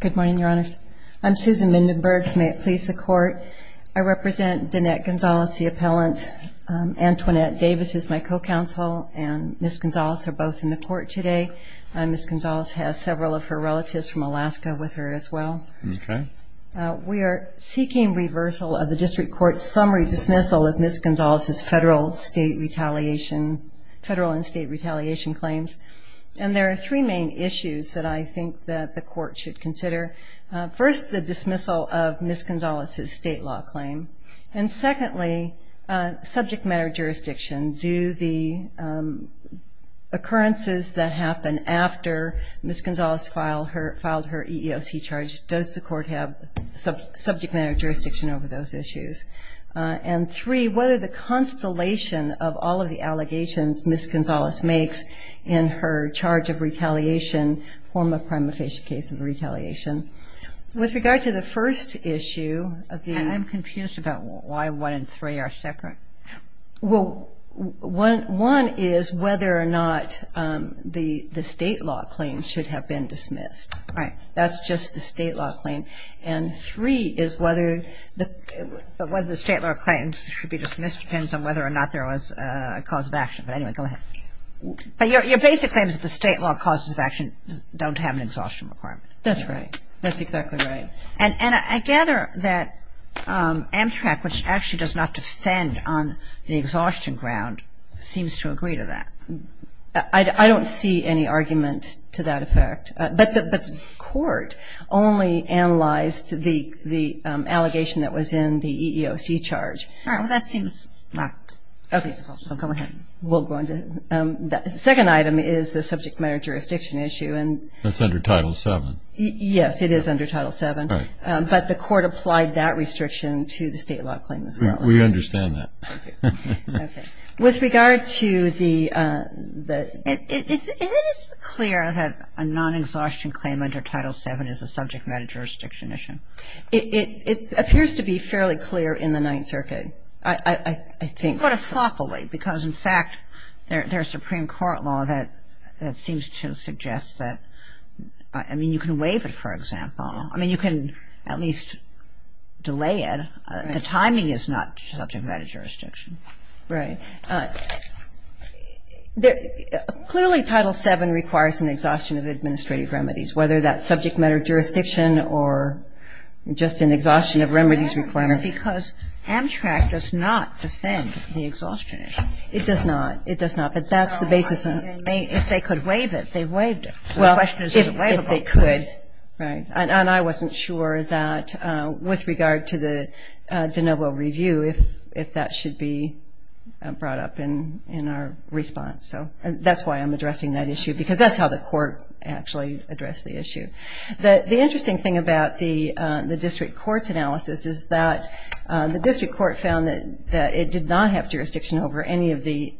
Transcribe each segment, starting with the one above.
Good morning, Your Honors. I'm Susan Mindenbergs. May it please the Court, I represent Danette Gonzalez, the appellant. Antoinette Davis is my co-counsel, and Ms. Gonzalez are both in the court today. Ms. Gonzalez has several of her relatives from Alaska with her as well. We are seeking reversal of the District Court's summary dismissal of Ms. Gonzalez's federal and state retaliation claims. And there are three main issues that I think that the court should consider. First, the dismissal of Ms. Gonzalez's state law claim. And secondly, subject matter jurisdiction. Do the occurrences that happen after Ms. Gonzalez filed her EEOC charge, does the court have subject matter jurisdiction over those issues? And three, whether the constellation of all of the allegations Ms. Gonzalez makes in her charge of retaliation, form of prima facie case of retaliation. With regard to the first issue of the... I'm confused about why one and three are separate. Well, one is whether or not the state law claim should have been dismissed. Right. That's just the state law claim. And three is whether the state law claims should be dismissed depends on whether or not there was a cause of action. But anyway, go ahead. But your basic claim is that the state law causes of action don't have an exhaustion requirement. That's right. That's exactly right. And I gather that Amtrak, which actually does not defend on the exhaustion ground, seems to agree to that. I don't see any argument to that effect. But the court only analyzed the allegation that was in the EEOC charge. All right. Well, that seems... Okay. Go ahead. We'll go on to... The second item is the subject matter jurisdiction issue. That's under Title VII. Yes, it is under Title VII. All right. But the court applied that restriction to the state law claim as well. We understand that. With regard to the... It is clear that a non-exhaustion claim under Title VII is a subject matter jurisdiction issue. It appears to be fairly clear in the Ninth Circuit. I think... It's quite a floppily because, in fact, there's Supreme Court law that seems to suggest that... I mean, you can waive it, for example. I mean, you can at least delay it. The timing is not subject matter jurisdiction. Right. Clearly, Title VII requires an exhaustion of administrative remedies, whether that's subject matter jurisdiction or just an exhaustion of remedies requirements. Because Amtrak does not defend the exhaustion issue. It does not. It does not. But that's the basis... If they could waive it, they waived it. Well, if they could. Right. And I wasn't sure that, with regard to the de novo review, if that should be brought up in our response. So that's why I'm addressing that issue because that's how the court actually addressed the issue. The interesting thing about the district court's analysis is that the district court found that it did not have jurisdiction over any of the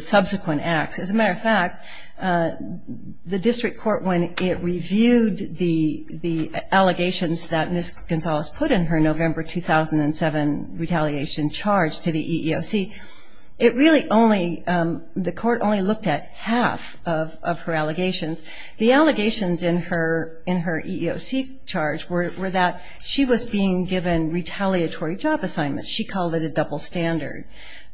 subsequent acts. As a matter of fact, the district court, when it reviewed the allegations that Ms. Gonzalez put in her November 2007 retaliation charge to the EEOC, it really only... The court only looked at half of her allegations. The allegations in her EEOC charge were that she was being given retaliatory job assignments. She called it a double standard.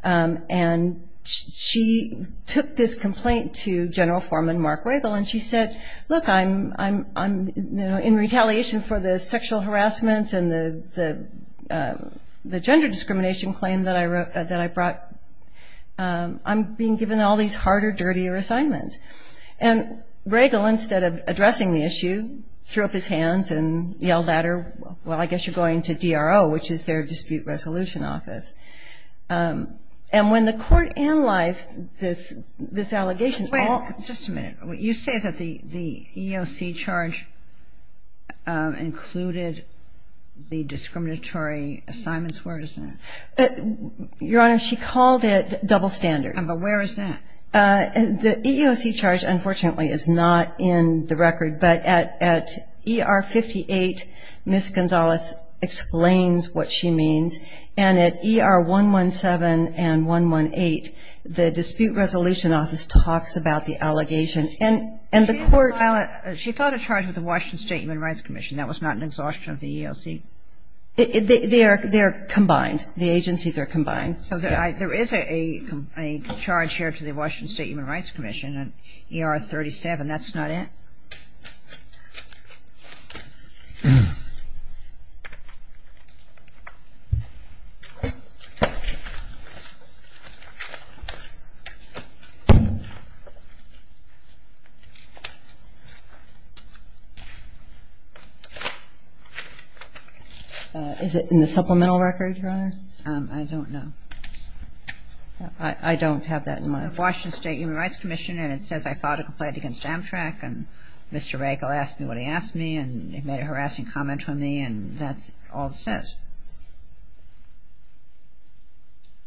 And she took this complaint to General Foreman Mark Regal, and she said, look, I'm in retaliation for the sexual harassment and the gender discrimination claim that I brought. I'm being given all these harder, dirtier assignments. And Regal, instead of addressing the issue, threw up his hands and yelled at her, well, I guess you're going to DRO, which is their dispute resolution office. And when the court analyzed this allegation... Wait. Just a minute. You say that the EEOC charge included the discriminatory assignments. Where is that? Your Honor, she called it double standard. But where is that? The EEOC charge, unfortunately, is not in the record. But at ER 58, Ms. Gonzalez explains what she means. And at ER 117 and 118, the dispute resolution office talks about the allegation. And the court... She filed a charge with the Washington State Human Rights Commission. That was not an exhaustion of the EEOC. They're combined. The agencies are combined. So there is a charge here to the Washington State Human Rights Commission at ER 37. That's not it? Is it in the supplemental record, Your Honor? I don't know. I don't have that in my... The Washington State Human Rights Commission, and it says, I filed a complaint against Amtrak, and Mr. Rakel asked me what he asked me, and he made a harassing comment on me, and that's all it says.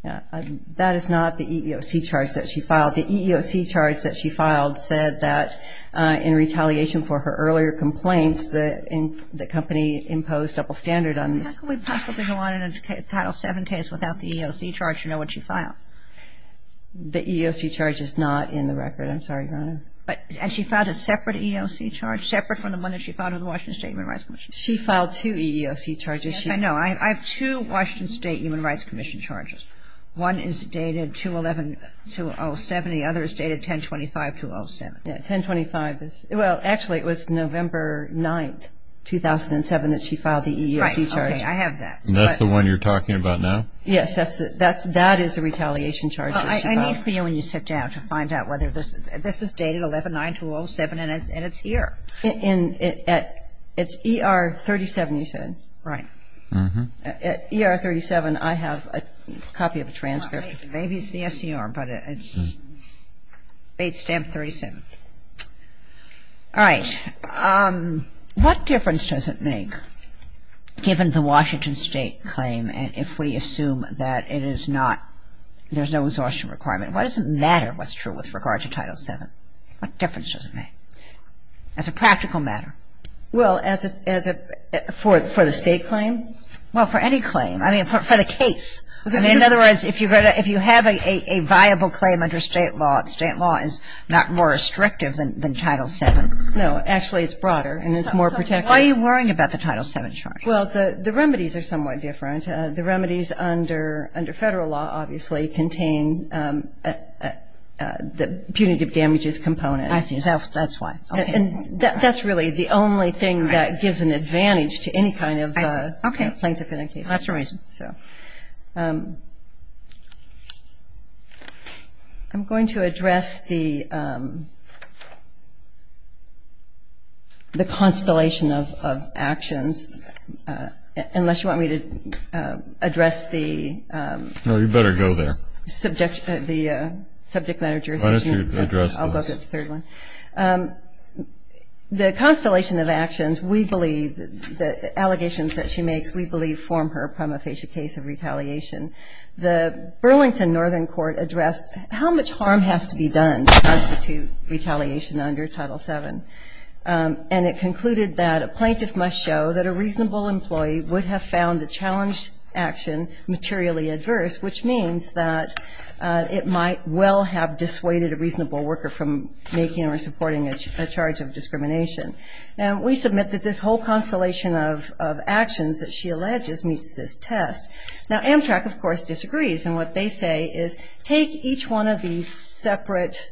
That is not the EEOC charge that she filed. The EEOC charge that she filed said that in retaliation for her earlier complaints, the company imposed double standard on this. How can we possibly go on in a Title VII case without the EEOC charge? You know what she filed. The EEOC charge is not in the record. I'm sorry, Your Honor. And she filed a separate EEOC charge, separate from the one that she filed with the Washington State Human Rights Commission? She filed two EEOC charges. Yes, I know. I have two Washington State Human Rights Commission charges. One is dated 2-11-2-0-7. The other is dated 10-25-2-0-7. Well, actually, it was November 9, 2007 that she filed the EEOC charge. Right, okay, I have that. And that's the one you're talking about now? Yes, that is the retaliation charge that she filed. I need for you when you sit down to find out whether this is dated 11-9-2-0-7, and it's here. It's ER-37, you said? Right. Mm-hmm. At ER-37, I have a copy of a transcript. Maybe it's the SCR, but it's State Stamp 37. All right. What difference does it make, given the Washington State claim, and if we assume that it is not, there's no exhaustion requirement, what does it matter what's true with regard to Title VII? What difference does it make? As a practical matter. Well, as a, for the State claim? Well, for any claim. I mean, for the case. I mean, in other words, if you have a viable claim under State law, State law is not more restrictive than Title VII. No, actually it's broader, and it's more protective. So why are you worrying about the Title VII charge? Well, the remedies are somewhat different. The remedies under Federal law, obviously, contain the punitive damages component. I see. That's why. And that's really the only thing that gives an advantage to any kind of plaintiff in a case. I see. Okay. That's the reason. I'm going to address the constellation of actions, unless you want me to address the subject matter jurisdiction. No, you'd better go there. I'll go to the third one. The constellation of actions, we believe, the allegations that she makes, we believe form her prima facie. The Burlington Northern Court addressed how much harm has to be done to constitute retaliation under Title VII. And it concluded that a plaintiff must show that a reasonable employee would have found a challenge action materially adverse, which means that it might well have dissuaded a reasonable worker from making or supporting a charge of discrimination. We submit that this whole constellation of actions that she alleges meets this test. Now, Amtrak, of course, disagrees. And what they say is take each one of these separate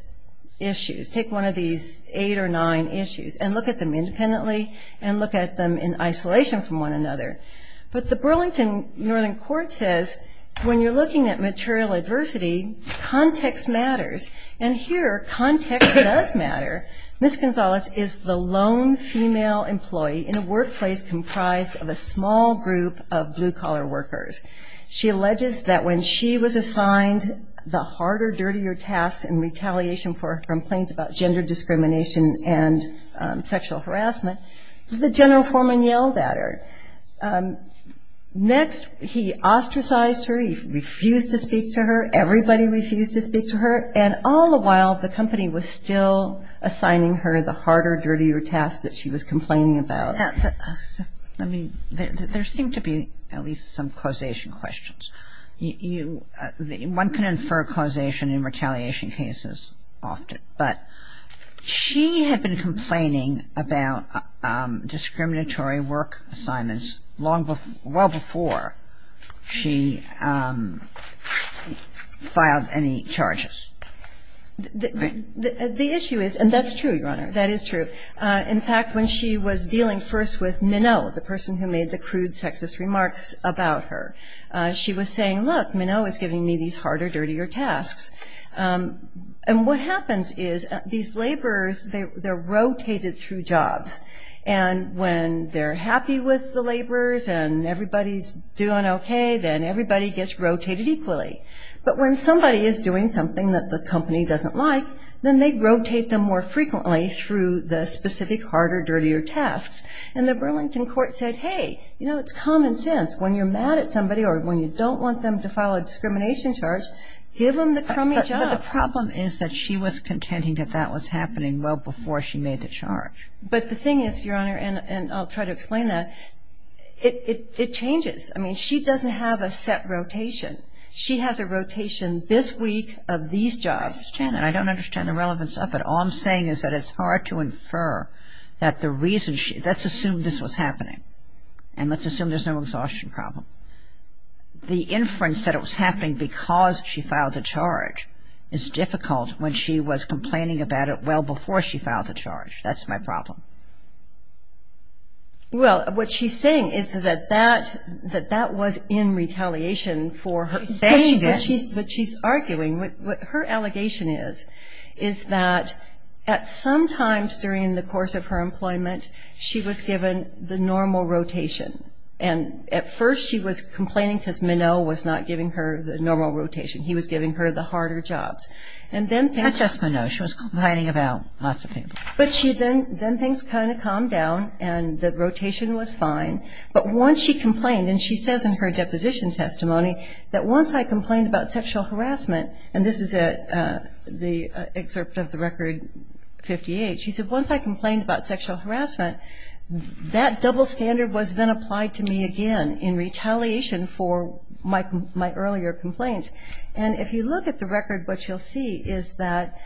issues, take one of these eight or nine issues, and look at them independently and look at them in isolation from one another. But the Burlington Northern Court says when you're looking at material adversity, context matters. And here, context does matter. Ms. Gonzalez is the lone female employee in a workplace comprised of a small group of blue-collar workers. She alleges that when she was assigned the harder, dirtier task in retaliation for a complaint about gender discrimination and sexual harassment, the general foreman yelled at her. Next, he ostracized her. He refused to speak to her. Everybody refused to speak to her. And all the while, the company was still assigning her the harder, dirtier task that she was complaining about. I mean, there seemed to be at least some causation questions. One can infer causation in retaliation cases often. But she had been complaining about discriminatory work assignments well before she filed any charges. The issue is, and that's true, Your Honor, that is true. In fact, when she was dealing first with Minow, the person who made the crude sexist remarks about her, she was saying, look, Minow is giving me these harder, dirtier tasks. And what happens is these laborers, they're rotated through jobs. And when they're happy with the laborers and everybody's doing okay, then everybody gets rotated equally. But when somebody is doing something that the company doesn't like, then they rotate them more frequently through the specific harder, dirtier tasks. And the Burlington court said, hey, you know, it's common sense. When you're mad at somebody or when you don't want them to file a discrimination charge, give them the crummy job. But the problem is that she was contending that that was happening well before she made the charge. But the thing is, Your Honor, and I'll try to explain that, it changes. I mean, she doesn't have a set rotation. She has a rotation this week of these jobs. Ms. Chandler, I don't understand the relevance of it. All I'm saying is that it's hard to infer that the reason she – let's assume this was happening. And let's assume there's no exhaustion problem. The inference that it was happening because she filed the charge is difficult when she was complaining about it well before she filed the charge. That's my problem. Well, what she's saying is that that was in retaliation for her saying. Yes, she did. But she's arguing. What her allegation is is that at some times during the course of her employment, she was given the normal rotation. And at first she was complaining because Minow was not giving her the normal rotation. He was giving her the harder jobs. Not just Minow. She was complaining about lots of people. But then things kind of calmed down and the rotation was fine. But once she complained, and she says in her deposition testimony, that once I complained about sexual harassment, and this is the excerpt of the Record 58, she said, once I complained about sexual harassment, that double standard was then applied to me again in retaliation for my earlier complaints. And if you look at the record, what you'll see is that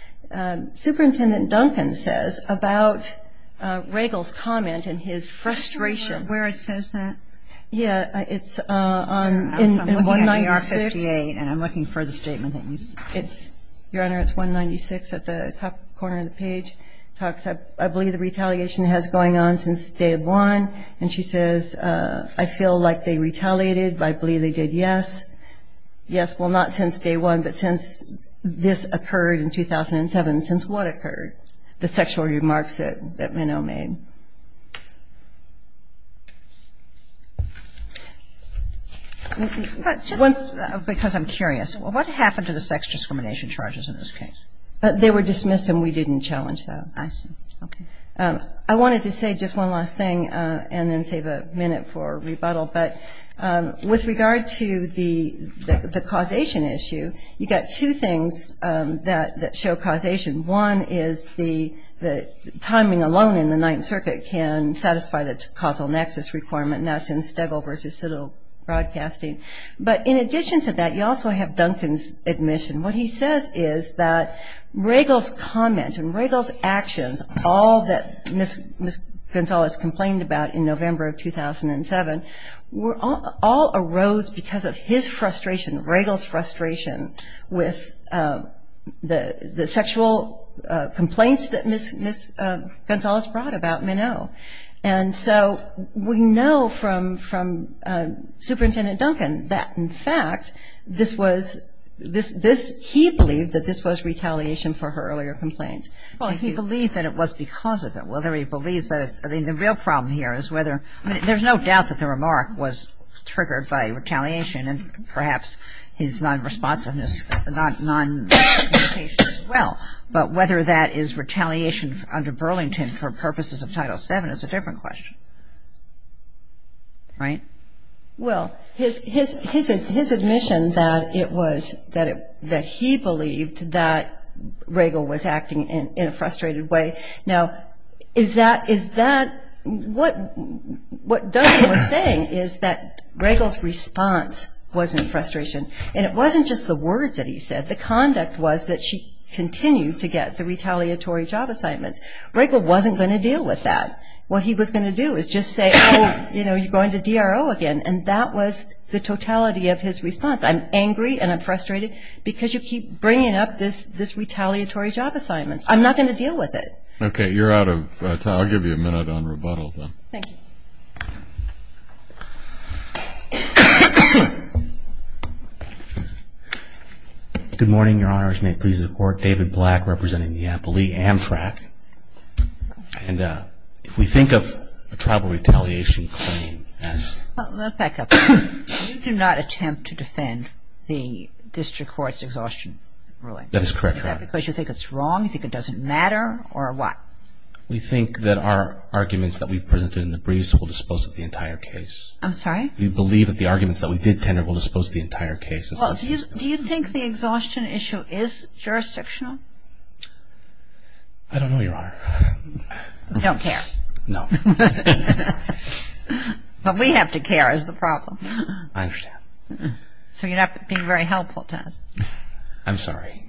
Superintendent Duncan says about Regal's comment and his frustration. Can you tell me where it says that? Yeah, it's in 196. I'm looking at the R58 and I'm looking for the statement that you said. Your Honor, it's 196 at the top corner of the page. It talks, I believe the retaliation has been going on since day one. And she says, I feel like they retaliated. I believe they did, yes. Yes, well, not since day one, but since this occurred in 2007. Since what occurred? The sexual remarks that Minow made. Just because I'm curious, what happened to the sex discrimination charges in this case? They were dismissed and we didn't challenge them. I see. Okay. I wanted to say just one last thing and then save a minute for rebuttal. But with regard to the causation issue, you've got two things that show causation. One is the timing alone in the Ninth Circuit can satisfy the causal nexus requirement, and that's in Stegall v. Siddle Broadcasting. But in addition to that, you also have Duncan's admission. What he says is that Regal's comment and Regal's actions, all that Ms. Gonzales complained about in November of 2007, all arose because of his frustration, Regal's frustration, with the sexual complaints that Ms. Gonzales brought about Minow. And so we know from Superintendent Duncan that, in fact, he believed that this was retaliation for her earlier complaints. Well, he believed that it was because of it. Whether he believes that it's ‑‑ I mean, the real problem here is whether ‑‑ I mean, there's no doubt that the remark was triggered by retaliation and perhaps his nonresponsiveness, noncommunication as well. But whether that is retaliation under Burlington for purposes of Title VII is a different question. Right? Well, his admission that it was ‑‑ that he believed that Regal was acting in a frustrated way. Now, is that ‑‑ what Duncan was saying is that Regal's response was in frustration, and it wasn't just the words that he said. The conduct was that she continued to get the retaliatory job assignments. Regal wasn't going to deal with that. What he was going to do is just say, oh, you know, you're going to DRO again. And that was the totality of his response. I'm angry and I'm frustrated because you keep bringing up this retaliatory job assignment. I'm not going to deal with it. Okay. You're out of time. I'll give you a minute on rebuttal then. Thank you. Good morning, Your Honors. May it please the Court. David Black representing the Amplee Amtrak. And if we think of a tribal retaliation claim as ‑‑ Let's back up. You do not attempt to defend the district court's exhaustion ruling. That is correct, Your Honor. Is that because you think it's wrong? You think it doesn't matter? Or what? We think that our arguments that we presented in the briefs will dispose of the entire case. I'm sorry? We believe that the arguments that we did tender will dispose of the entire case. Do you think the exhaustion issue is jurisdictional? I don't know, Your Honor. You don't care? No. What we have to care is the problem. I understand. So you're not being very helpful to us. I'm sorry.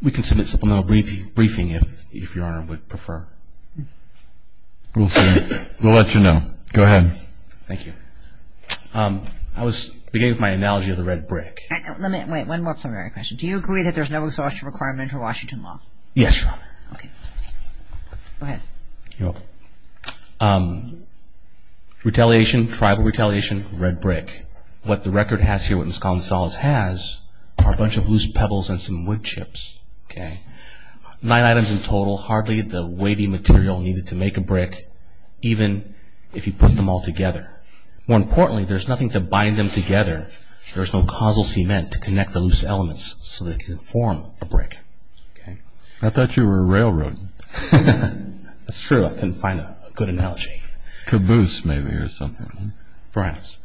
We can submit supplemental briefing if Your Honor would prefer. We'll see. We'll let you know. Go ahead. Thank you. I was beginning with my analogy of the red brick. Wait. One more preliminary question. Do you agree that there's no exhaustion requirement for Washington law? Yes, Your Honor. Okay. Go ahead. You're welcome. Retaliation, tribal retaliation, red brick. What the record has here, what Ms. Gonzalez has, are a bunch of loose pebbles and some wood chips. Okay. Nine items in total. Hardly the weighty material needed to make a brick, even if you put them all together. More importantly, there's nothing to bind them together. There's no causal cement to connect the loose elements so they can form a brick. Okay. I thought you were a railroad. That's true. I couldn't find a good analogy. Caboose maybe or something. Right.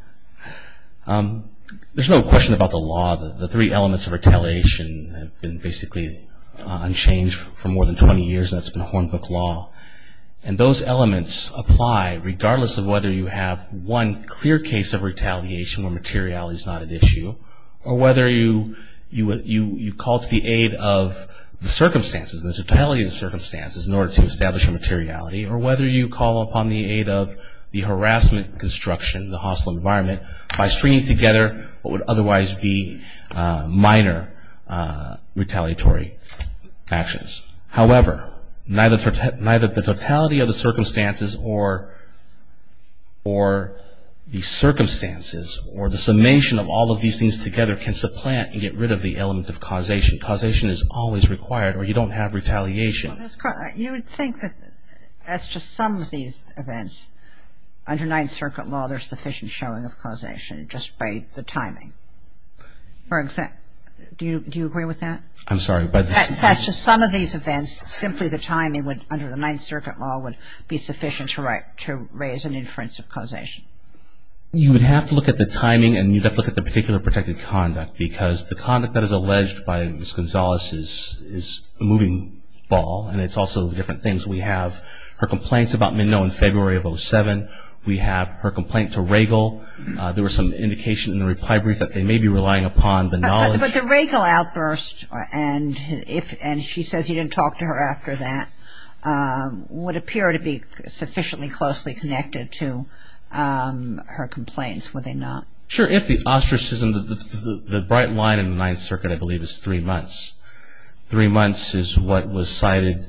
There's no question about the law. The three elements of retaliation have been basically unchanged for more than 20 years. That's been Hornbook law. And those elements apply regardless of whether you have one clear case of retaliation where materiality is not at issue, or whether you call to the aid of the circumstances, the totality of the circumstances, in order to establish a materiality, or whether you call upon the aid of the harassment construction, the hostile environment, by stringing together what would otherwise be minor retaliatory actions. However, neither the totality of the circumstances or the circumstances or the summation of all of these things together can supplant and get rid of the element of causation. Causation is always required or you don't have retaliation. You would think that that's just some of these events. Under Ninth Circuit law, there's sufficient showing of causation just by the timing. Do you agree with that? I'm sorry. That's just some of these events. Simply the timing would, under the Ninth Circuit law, would be sufficient to raise an inference of causation. You would have to look at the timing and you'd have to look at the particular protected conduct because the conduct that is alleged by Ms. Gonzalez is a moving ball, and it's also different things. We have her complaints about Mignot in February of 2007. We have her complaint to Regal. There was some indication in the reply brief that they may be relying upon the knowledge. But the Regal outburst, and she says you didn't talk to her after that, would appear to be sufficiently closely connected to her complaints, would they not? Sure. If the ostracism, the bright line in the Ninth Circuit, I believe, is three months. Three months is what was cited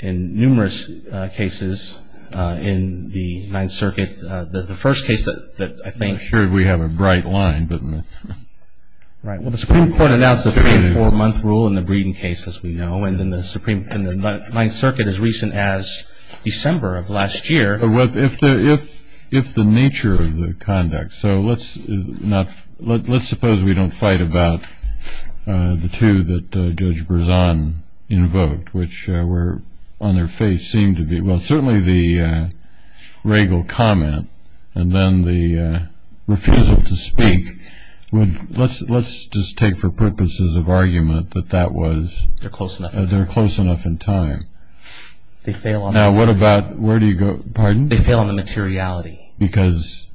in numerous cases in the Ninth Circuit. The first case that I think we have a bright line. The Supreme Court announced a three- and four-month rule in the Breeden case, as we know, and the Ninth Circuit as recent as December of last year. Well, if the nature of the conduct. So let's suppose we don't fight about the two that Judge Berzon invoked, which were on their face seemed to be, well, certainly the Regal comment, and then the refusal to speak. Let's just take for purposes of argument that that was. They're close enough. They're close enough in time. Now, what about, where do you go? Pardon? They fail on the materiality. Because?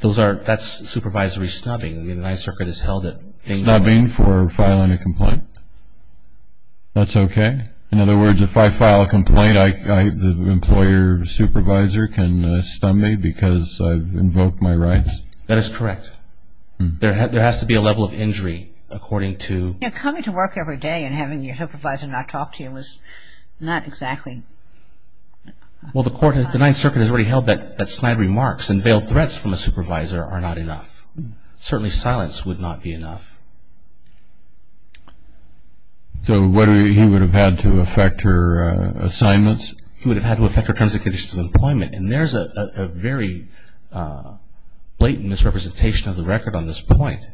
That's supervisory snubbing. The Ninth Circuit has held it. Snubbing for filing a complaint. That's okay? In other words, if I file a complaint, the employer supervisor can stun me because I've invoked my rights? That is correct. There has to be a level of injury according to. You know, coming to work every day and having your supervisor not talk to you was not exactly. Well, the Ninth Circuit has already held that snide remarks and veiled threats from a supervisor are not enough. Certainly silence would not be enough. So he would have had to affect her assignments? He would have had to affect her terms and conditions of employment. And there's a very blatant misrepresentation of the record on this point.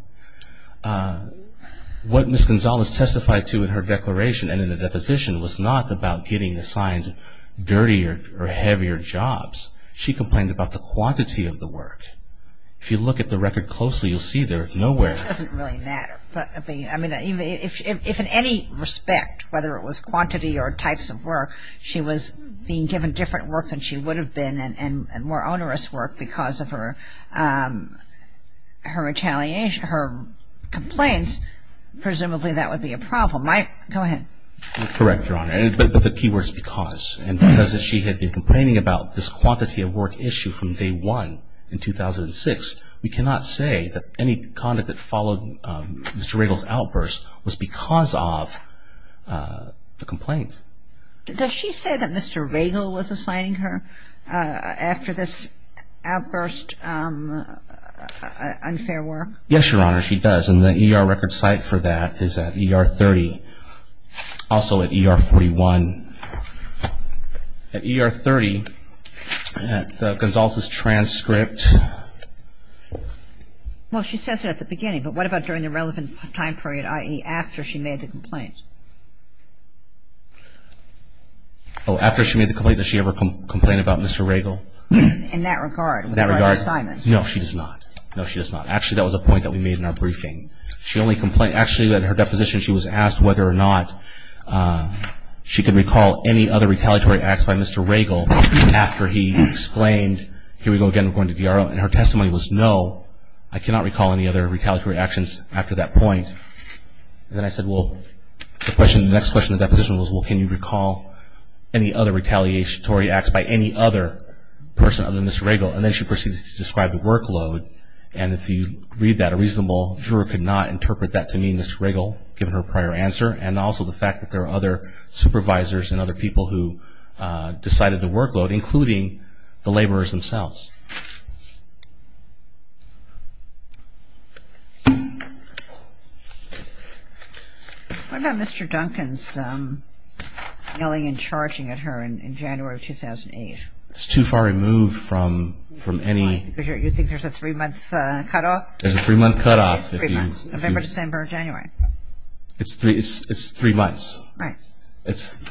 What Ms. Gonzalez testified to in her declaration and in the deposition was not about getting assigned dirtier or heavier jobs. She complained about the quantity of the work. If you look at the record closely, you'll see there's nowhere. It doesn't really matter. I mean, if in any respect, whether it was quantity or types of work, she was being given different work than she would have been and more onerous work because of her complaints, presumably that would be a problem. Mike, go ahead. Correct, Your Honor. But the key word is because. And because she had been complaining about this quantity of work issue from day one in 2006, we cannot say that any conduct that followed Mr. Riegel's outburst was because of the complaint. Does she say that Mr. Riegel was assigning her after this outburst unfair work? Yes, Your Honor, she does. And the ER record site for that is at ER 30. Also at ER 41. At ER 30, the Gonzalez's transcript. Well, she says it at the beginning. But what about during the relevant time period, i.e., after she made the complaint? Oh, after she made the complaint, did she ever complain about Mr. Riegel? In that regard. In that regard. With regard to assignments. No, she does not. No, she does not. Actually, that was a point that we made in our briefing. She only complained – actually, in her deposition, she was asked whether or not she could recall any other retaliatory acts by Mr. Riegel after he exclaimed, here we go again, we're going to DRO. And her testimony was, no, I cannot recall any other retaliatory actions after that point. And then I said, well, the next question in the deposition was, well, can you recall any other retaliatory acts by any other person other than Mr. Riegel? And then she proceeds to describe the workload. And if you read that, a reasonable juror could not interpret that to mean Mr. Riegel, given her prior answer, and also the fact that there are other supervisors and other people who decided the workload, including the laborers themselves. What about Mr. Duncan's yelling and charging at her in January of 2008? It's too far removed from any – You think there's a three-month cutoff? There's a three-month cutoff. November, December, January. It's three months. Right.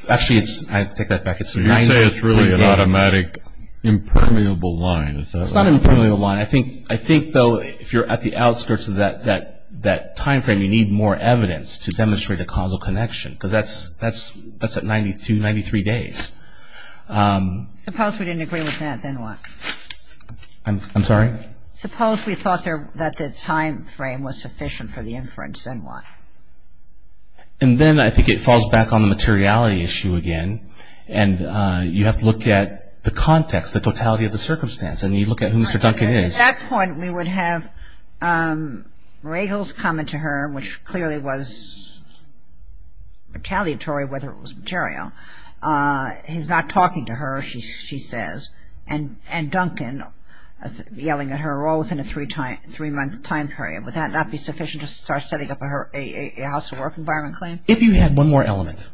Actually, I take that back. You say it's really an automatic impermeable line. It's not an impermeable line. I think, though, if you're at the outskirts of that timeframe, you need more evidence to demonstrate a causal connection, because that's at 92, 93 days. Suppose we didn't agree with that, then what? I'm sorry? Suppose we thought that the timeframe was sufficient for the inference, then what? And then I think it falls back on the materiality issue again, and you have to look at the context, the totality of the circumstance, and you look at who Mr. Duncan is. At that point, we would have Riegel's comment to her, which clearly was retaliatory whether it was material, he's not talking to her, she says, and Duncan yelling at her all within a three-month time period. Would that not be sufficient to start setting up a house-to-work environment claim? If you had one more element,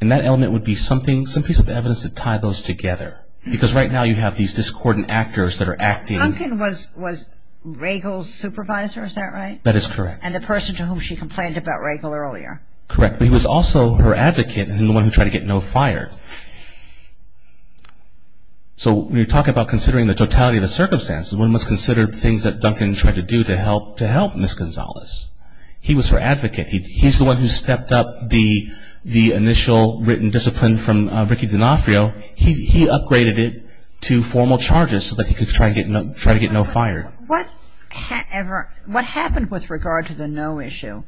and that element would be something, some piece of evidence to tie those together, because right now you have these discordant actors that are acting. Duncan was Riegel's supervisor, is that right? That is correct. And the person to whom she complained about Riegel earlier. Correct. But he was also her advocate and the one who tried to get Noe fired. So when you talk about considering the totality of the circumstance, one must consider things that Duncan tried to do to help Ms. Gonzalez. He was her advocate. He's the one who stepped up the initial written discipline from Ricky D'Onofrio. He upgraded it to formal charges so that he could try to get Noe fired. What happened with regard to the Noe issue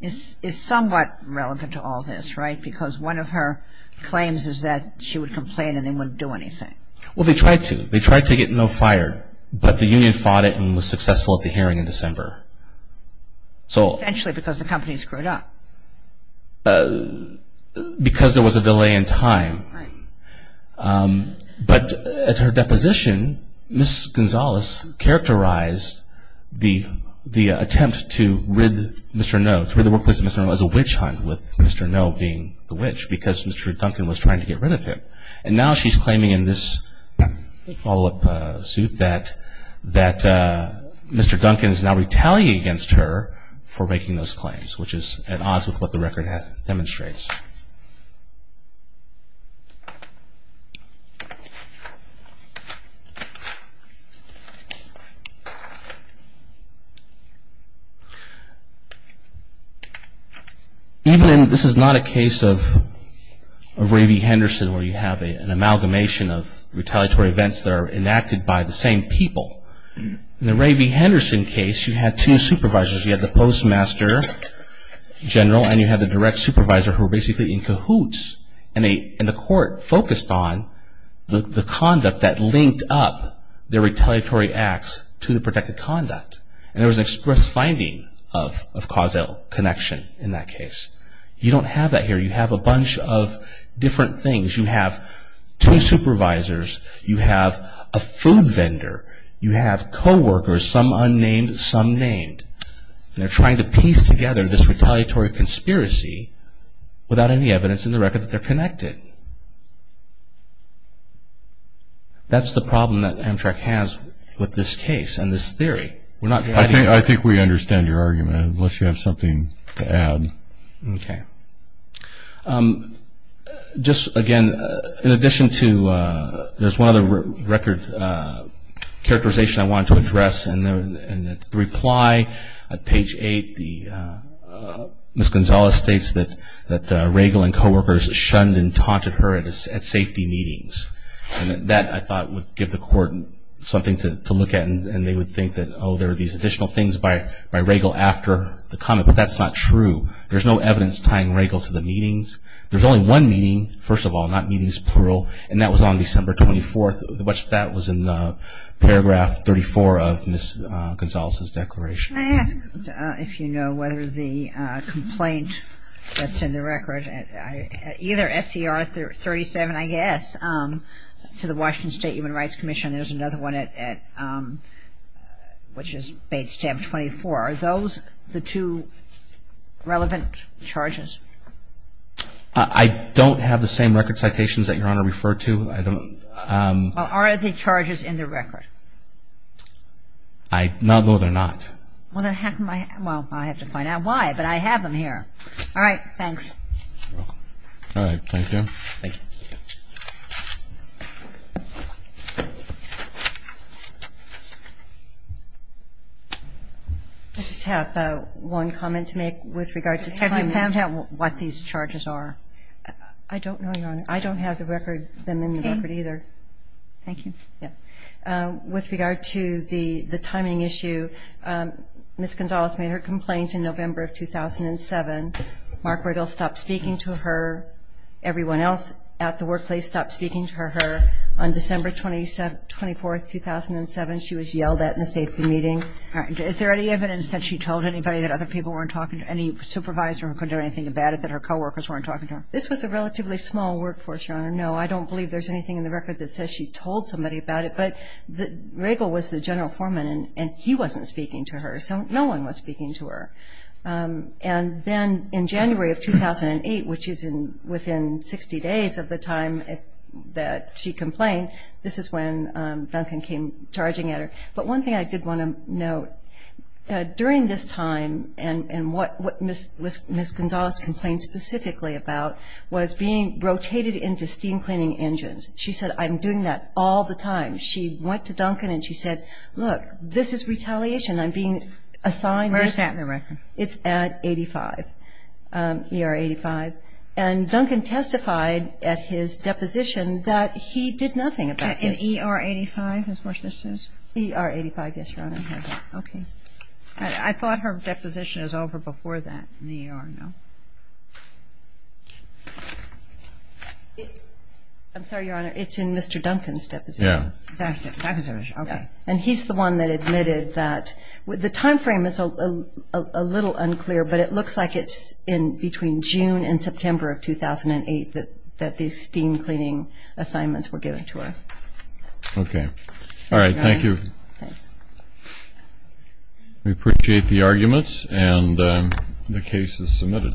is somewhat relevant to all this, right? Because one of her claims is that she would complain and they wouldn't do anything. Well, they tried to. They tried to get Noe fired, but the union fought it and was successful at the hearing in December. Essentially because the company screwed up. Because there was a delay in time. Right. But at her deposition, Ms. Gonzalez characterized the attempt to rid Mr. Noe, to rid the workplace of Mr. Noe as a witch hunt, with Mr. Noe being the witch, because Mr. Duncan was trying to get rid of him. And now she's claiming in this follow-up suit that Mr. Duncan is now retaliating against her for making those claims, which is at odds with what the record demonstrates. Even in, this is not a case of Ray V. Henderson, where you have an amalgamation of retaliatory events that are enacted by the same people. In the Ray V. Henderson case, you had two supervisors. You had the postmaster general and you had the direct supervisor who were basically in cahoots. And the court focused on the conduct that linked up their retaliatory acts to the protected conduct. And there was an express finding of causal connection in that case. You don't have that here. You have a bunch of different things. You have two supervisors. You have a food vendor. You have co-workers, some unnamed, some named. And they're trying to piece together this retaliatory conspiracy without any evidence in the record that they're connected. That's the problem that Amtrak has with this case and this theory. I think we understand your argument, unless you have something to add. Okay. Just again, in addition to, there's one other record characterization I wanted to address. And the reply at page 8, Ms. Gonzales states that Regal and co-workers shunned and taunted her at safety meetings. And that, I thought, would give the court something to look at. And they would think that, oh, there are these additional things by Regal after the comment. But that's not true. There's no evidence tying Regal to the meetings. There's only one meeting, first of all, not meetings, plural. And that was on December 24th. That was in paragraph 34 of Ms. Gonzales' declaration. I ask if you know whether the complaint that's in the record, either SCR 37, I guess, to the Washington State Human Rights Commission, there's another one at, which is page 24. Are those the two relevant charges? I don't have the same record citations that Your Honor referred to. Well, are the charges in the record? Not that they're not. Well, I have to find out why. But I have them here. All right. Thanks. All right. Thank you. Thank you. I just have one comment to make with regard to timing. Have you found out what these charges are? I don't know, Your Honor. I don't have them in the record either. Thank you. Yeah. With regard to the timing issue, Ms. Gonzales made her complaint in November of 2007. Mark Regal stopped speaking to her. Everyone else at the workplace stopped speaking to her. On December 24th, 2007, she was yelled at in a safety meeting. All right. Is there any evidence that she told anybody that other people weren't talking to her, any supervisor who couldn't do anything about it, that her coworkers weren't talking to her? This was a relatively small workforce, Your Honor. No, I don't believe there's anything in the record that says she told somebody about it. But Regal was the general foreman, and he wasn't speaking to her. So no one was speaking to her. And then in January of 2008, which is within 60 days of the time that she complained, this is when Duncan came charging at her. But one thing I did want to note, during this time, and what Ms. Gonzales complained specifically about was being rotated into steam cleaning engines. She said, I'm doing that all the time. She went to Duncan and she said, look, this is retaliation. I'm being assigned this. Where is that in the record? It's at 85, ER 85. And Duncan testified at his deposition that he did nothing about this. In ER 85, as far as this is? ER 85, yes, Your Honor. Okay. I thought her deposition was over before that in the ER, no? I'm sorry, Your Honor, it's in Mr. Duncan's deposition. Yeah. And he's the one that admitted that. The time frame is a little unclear, but it looks like it's between June and September of 2008 that the steam cleaning assignments were given to her. Okay. All right. Thank you. We appreciate the arguments, and the case is submitted.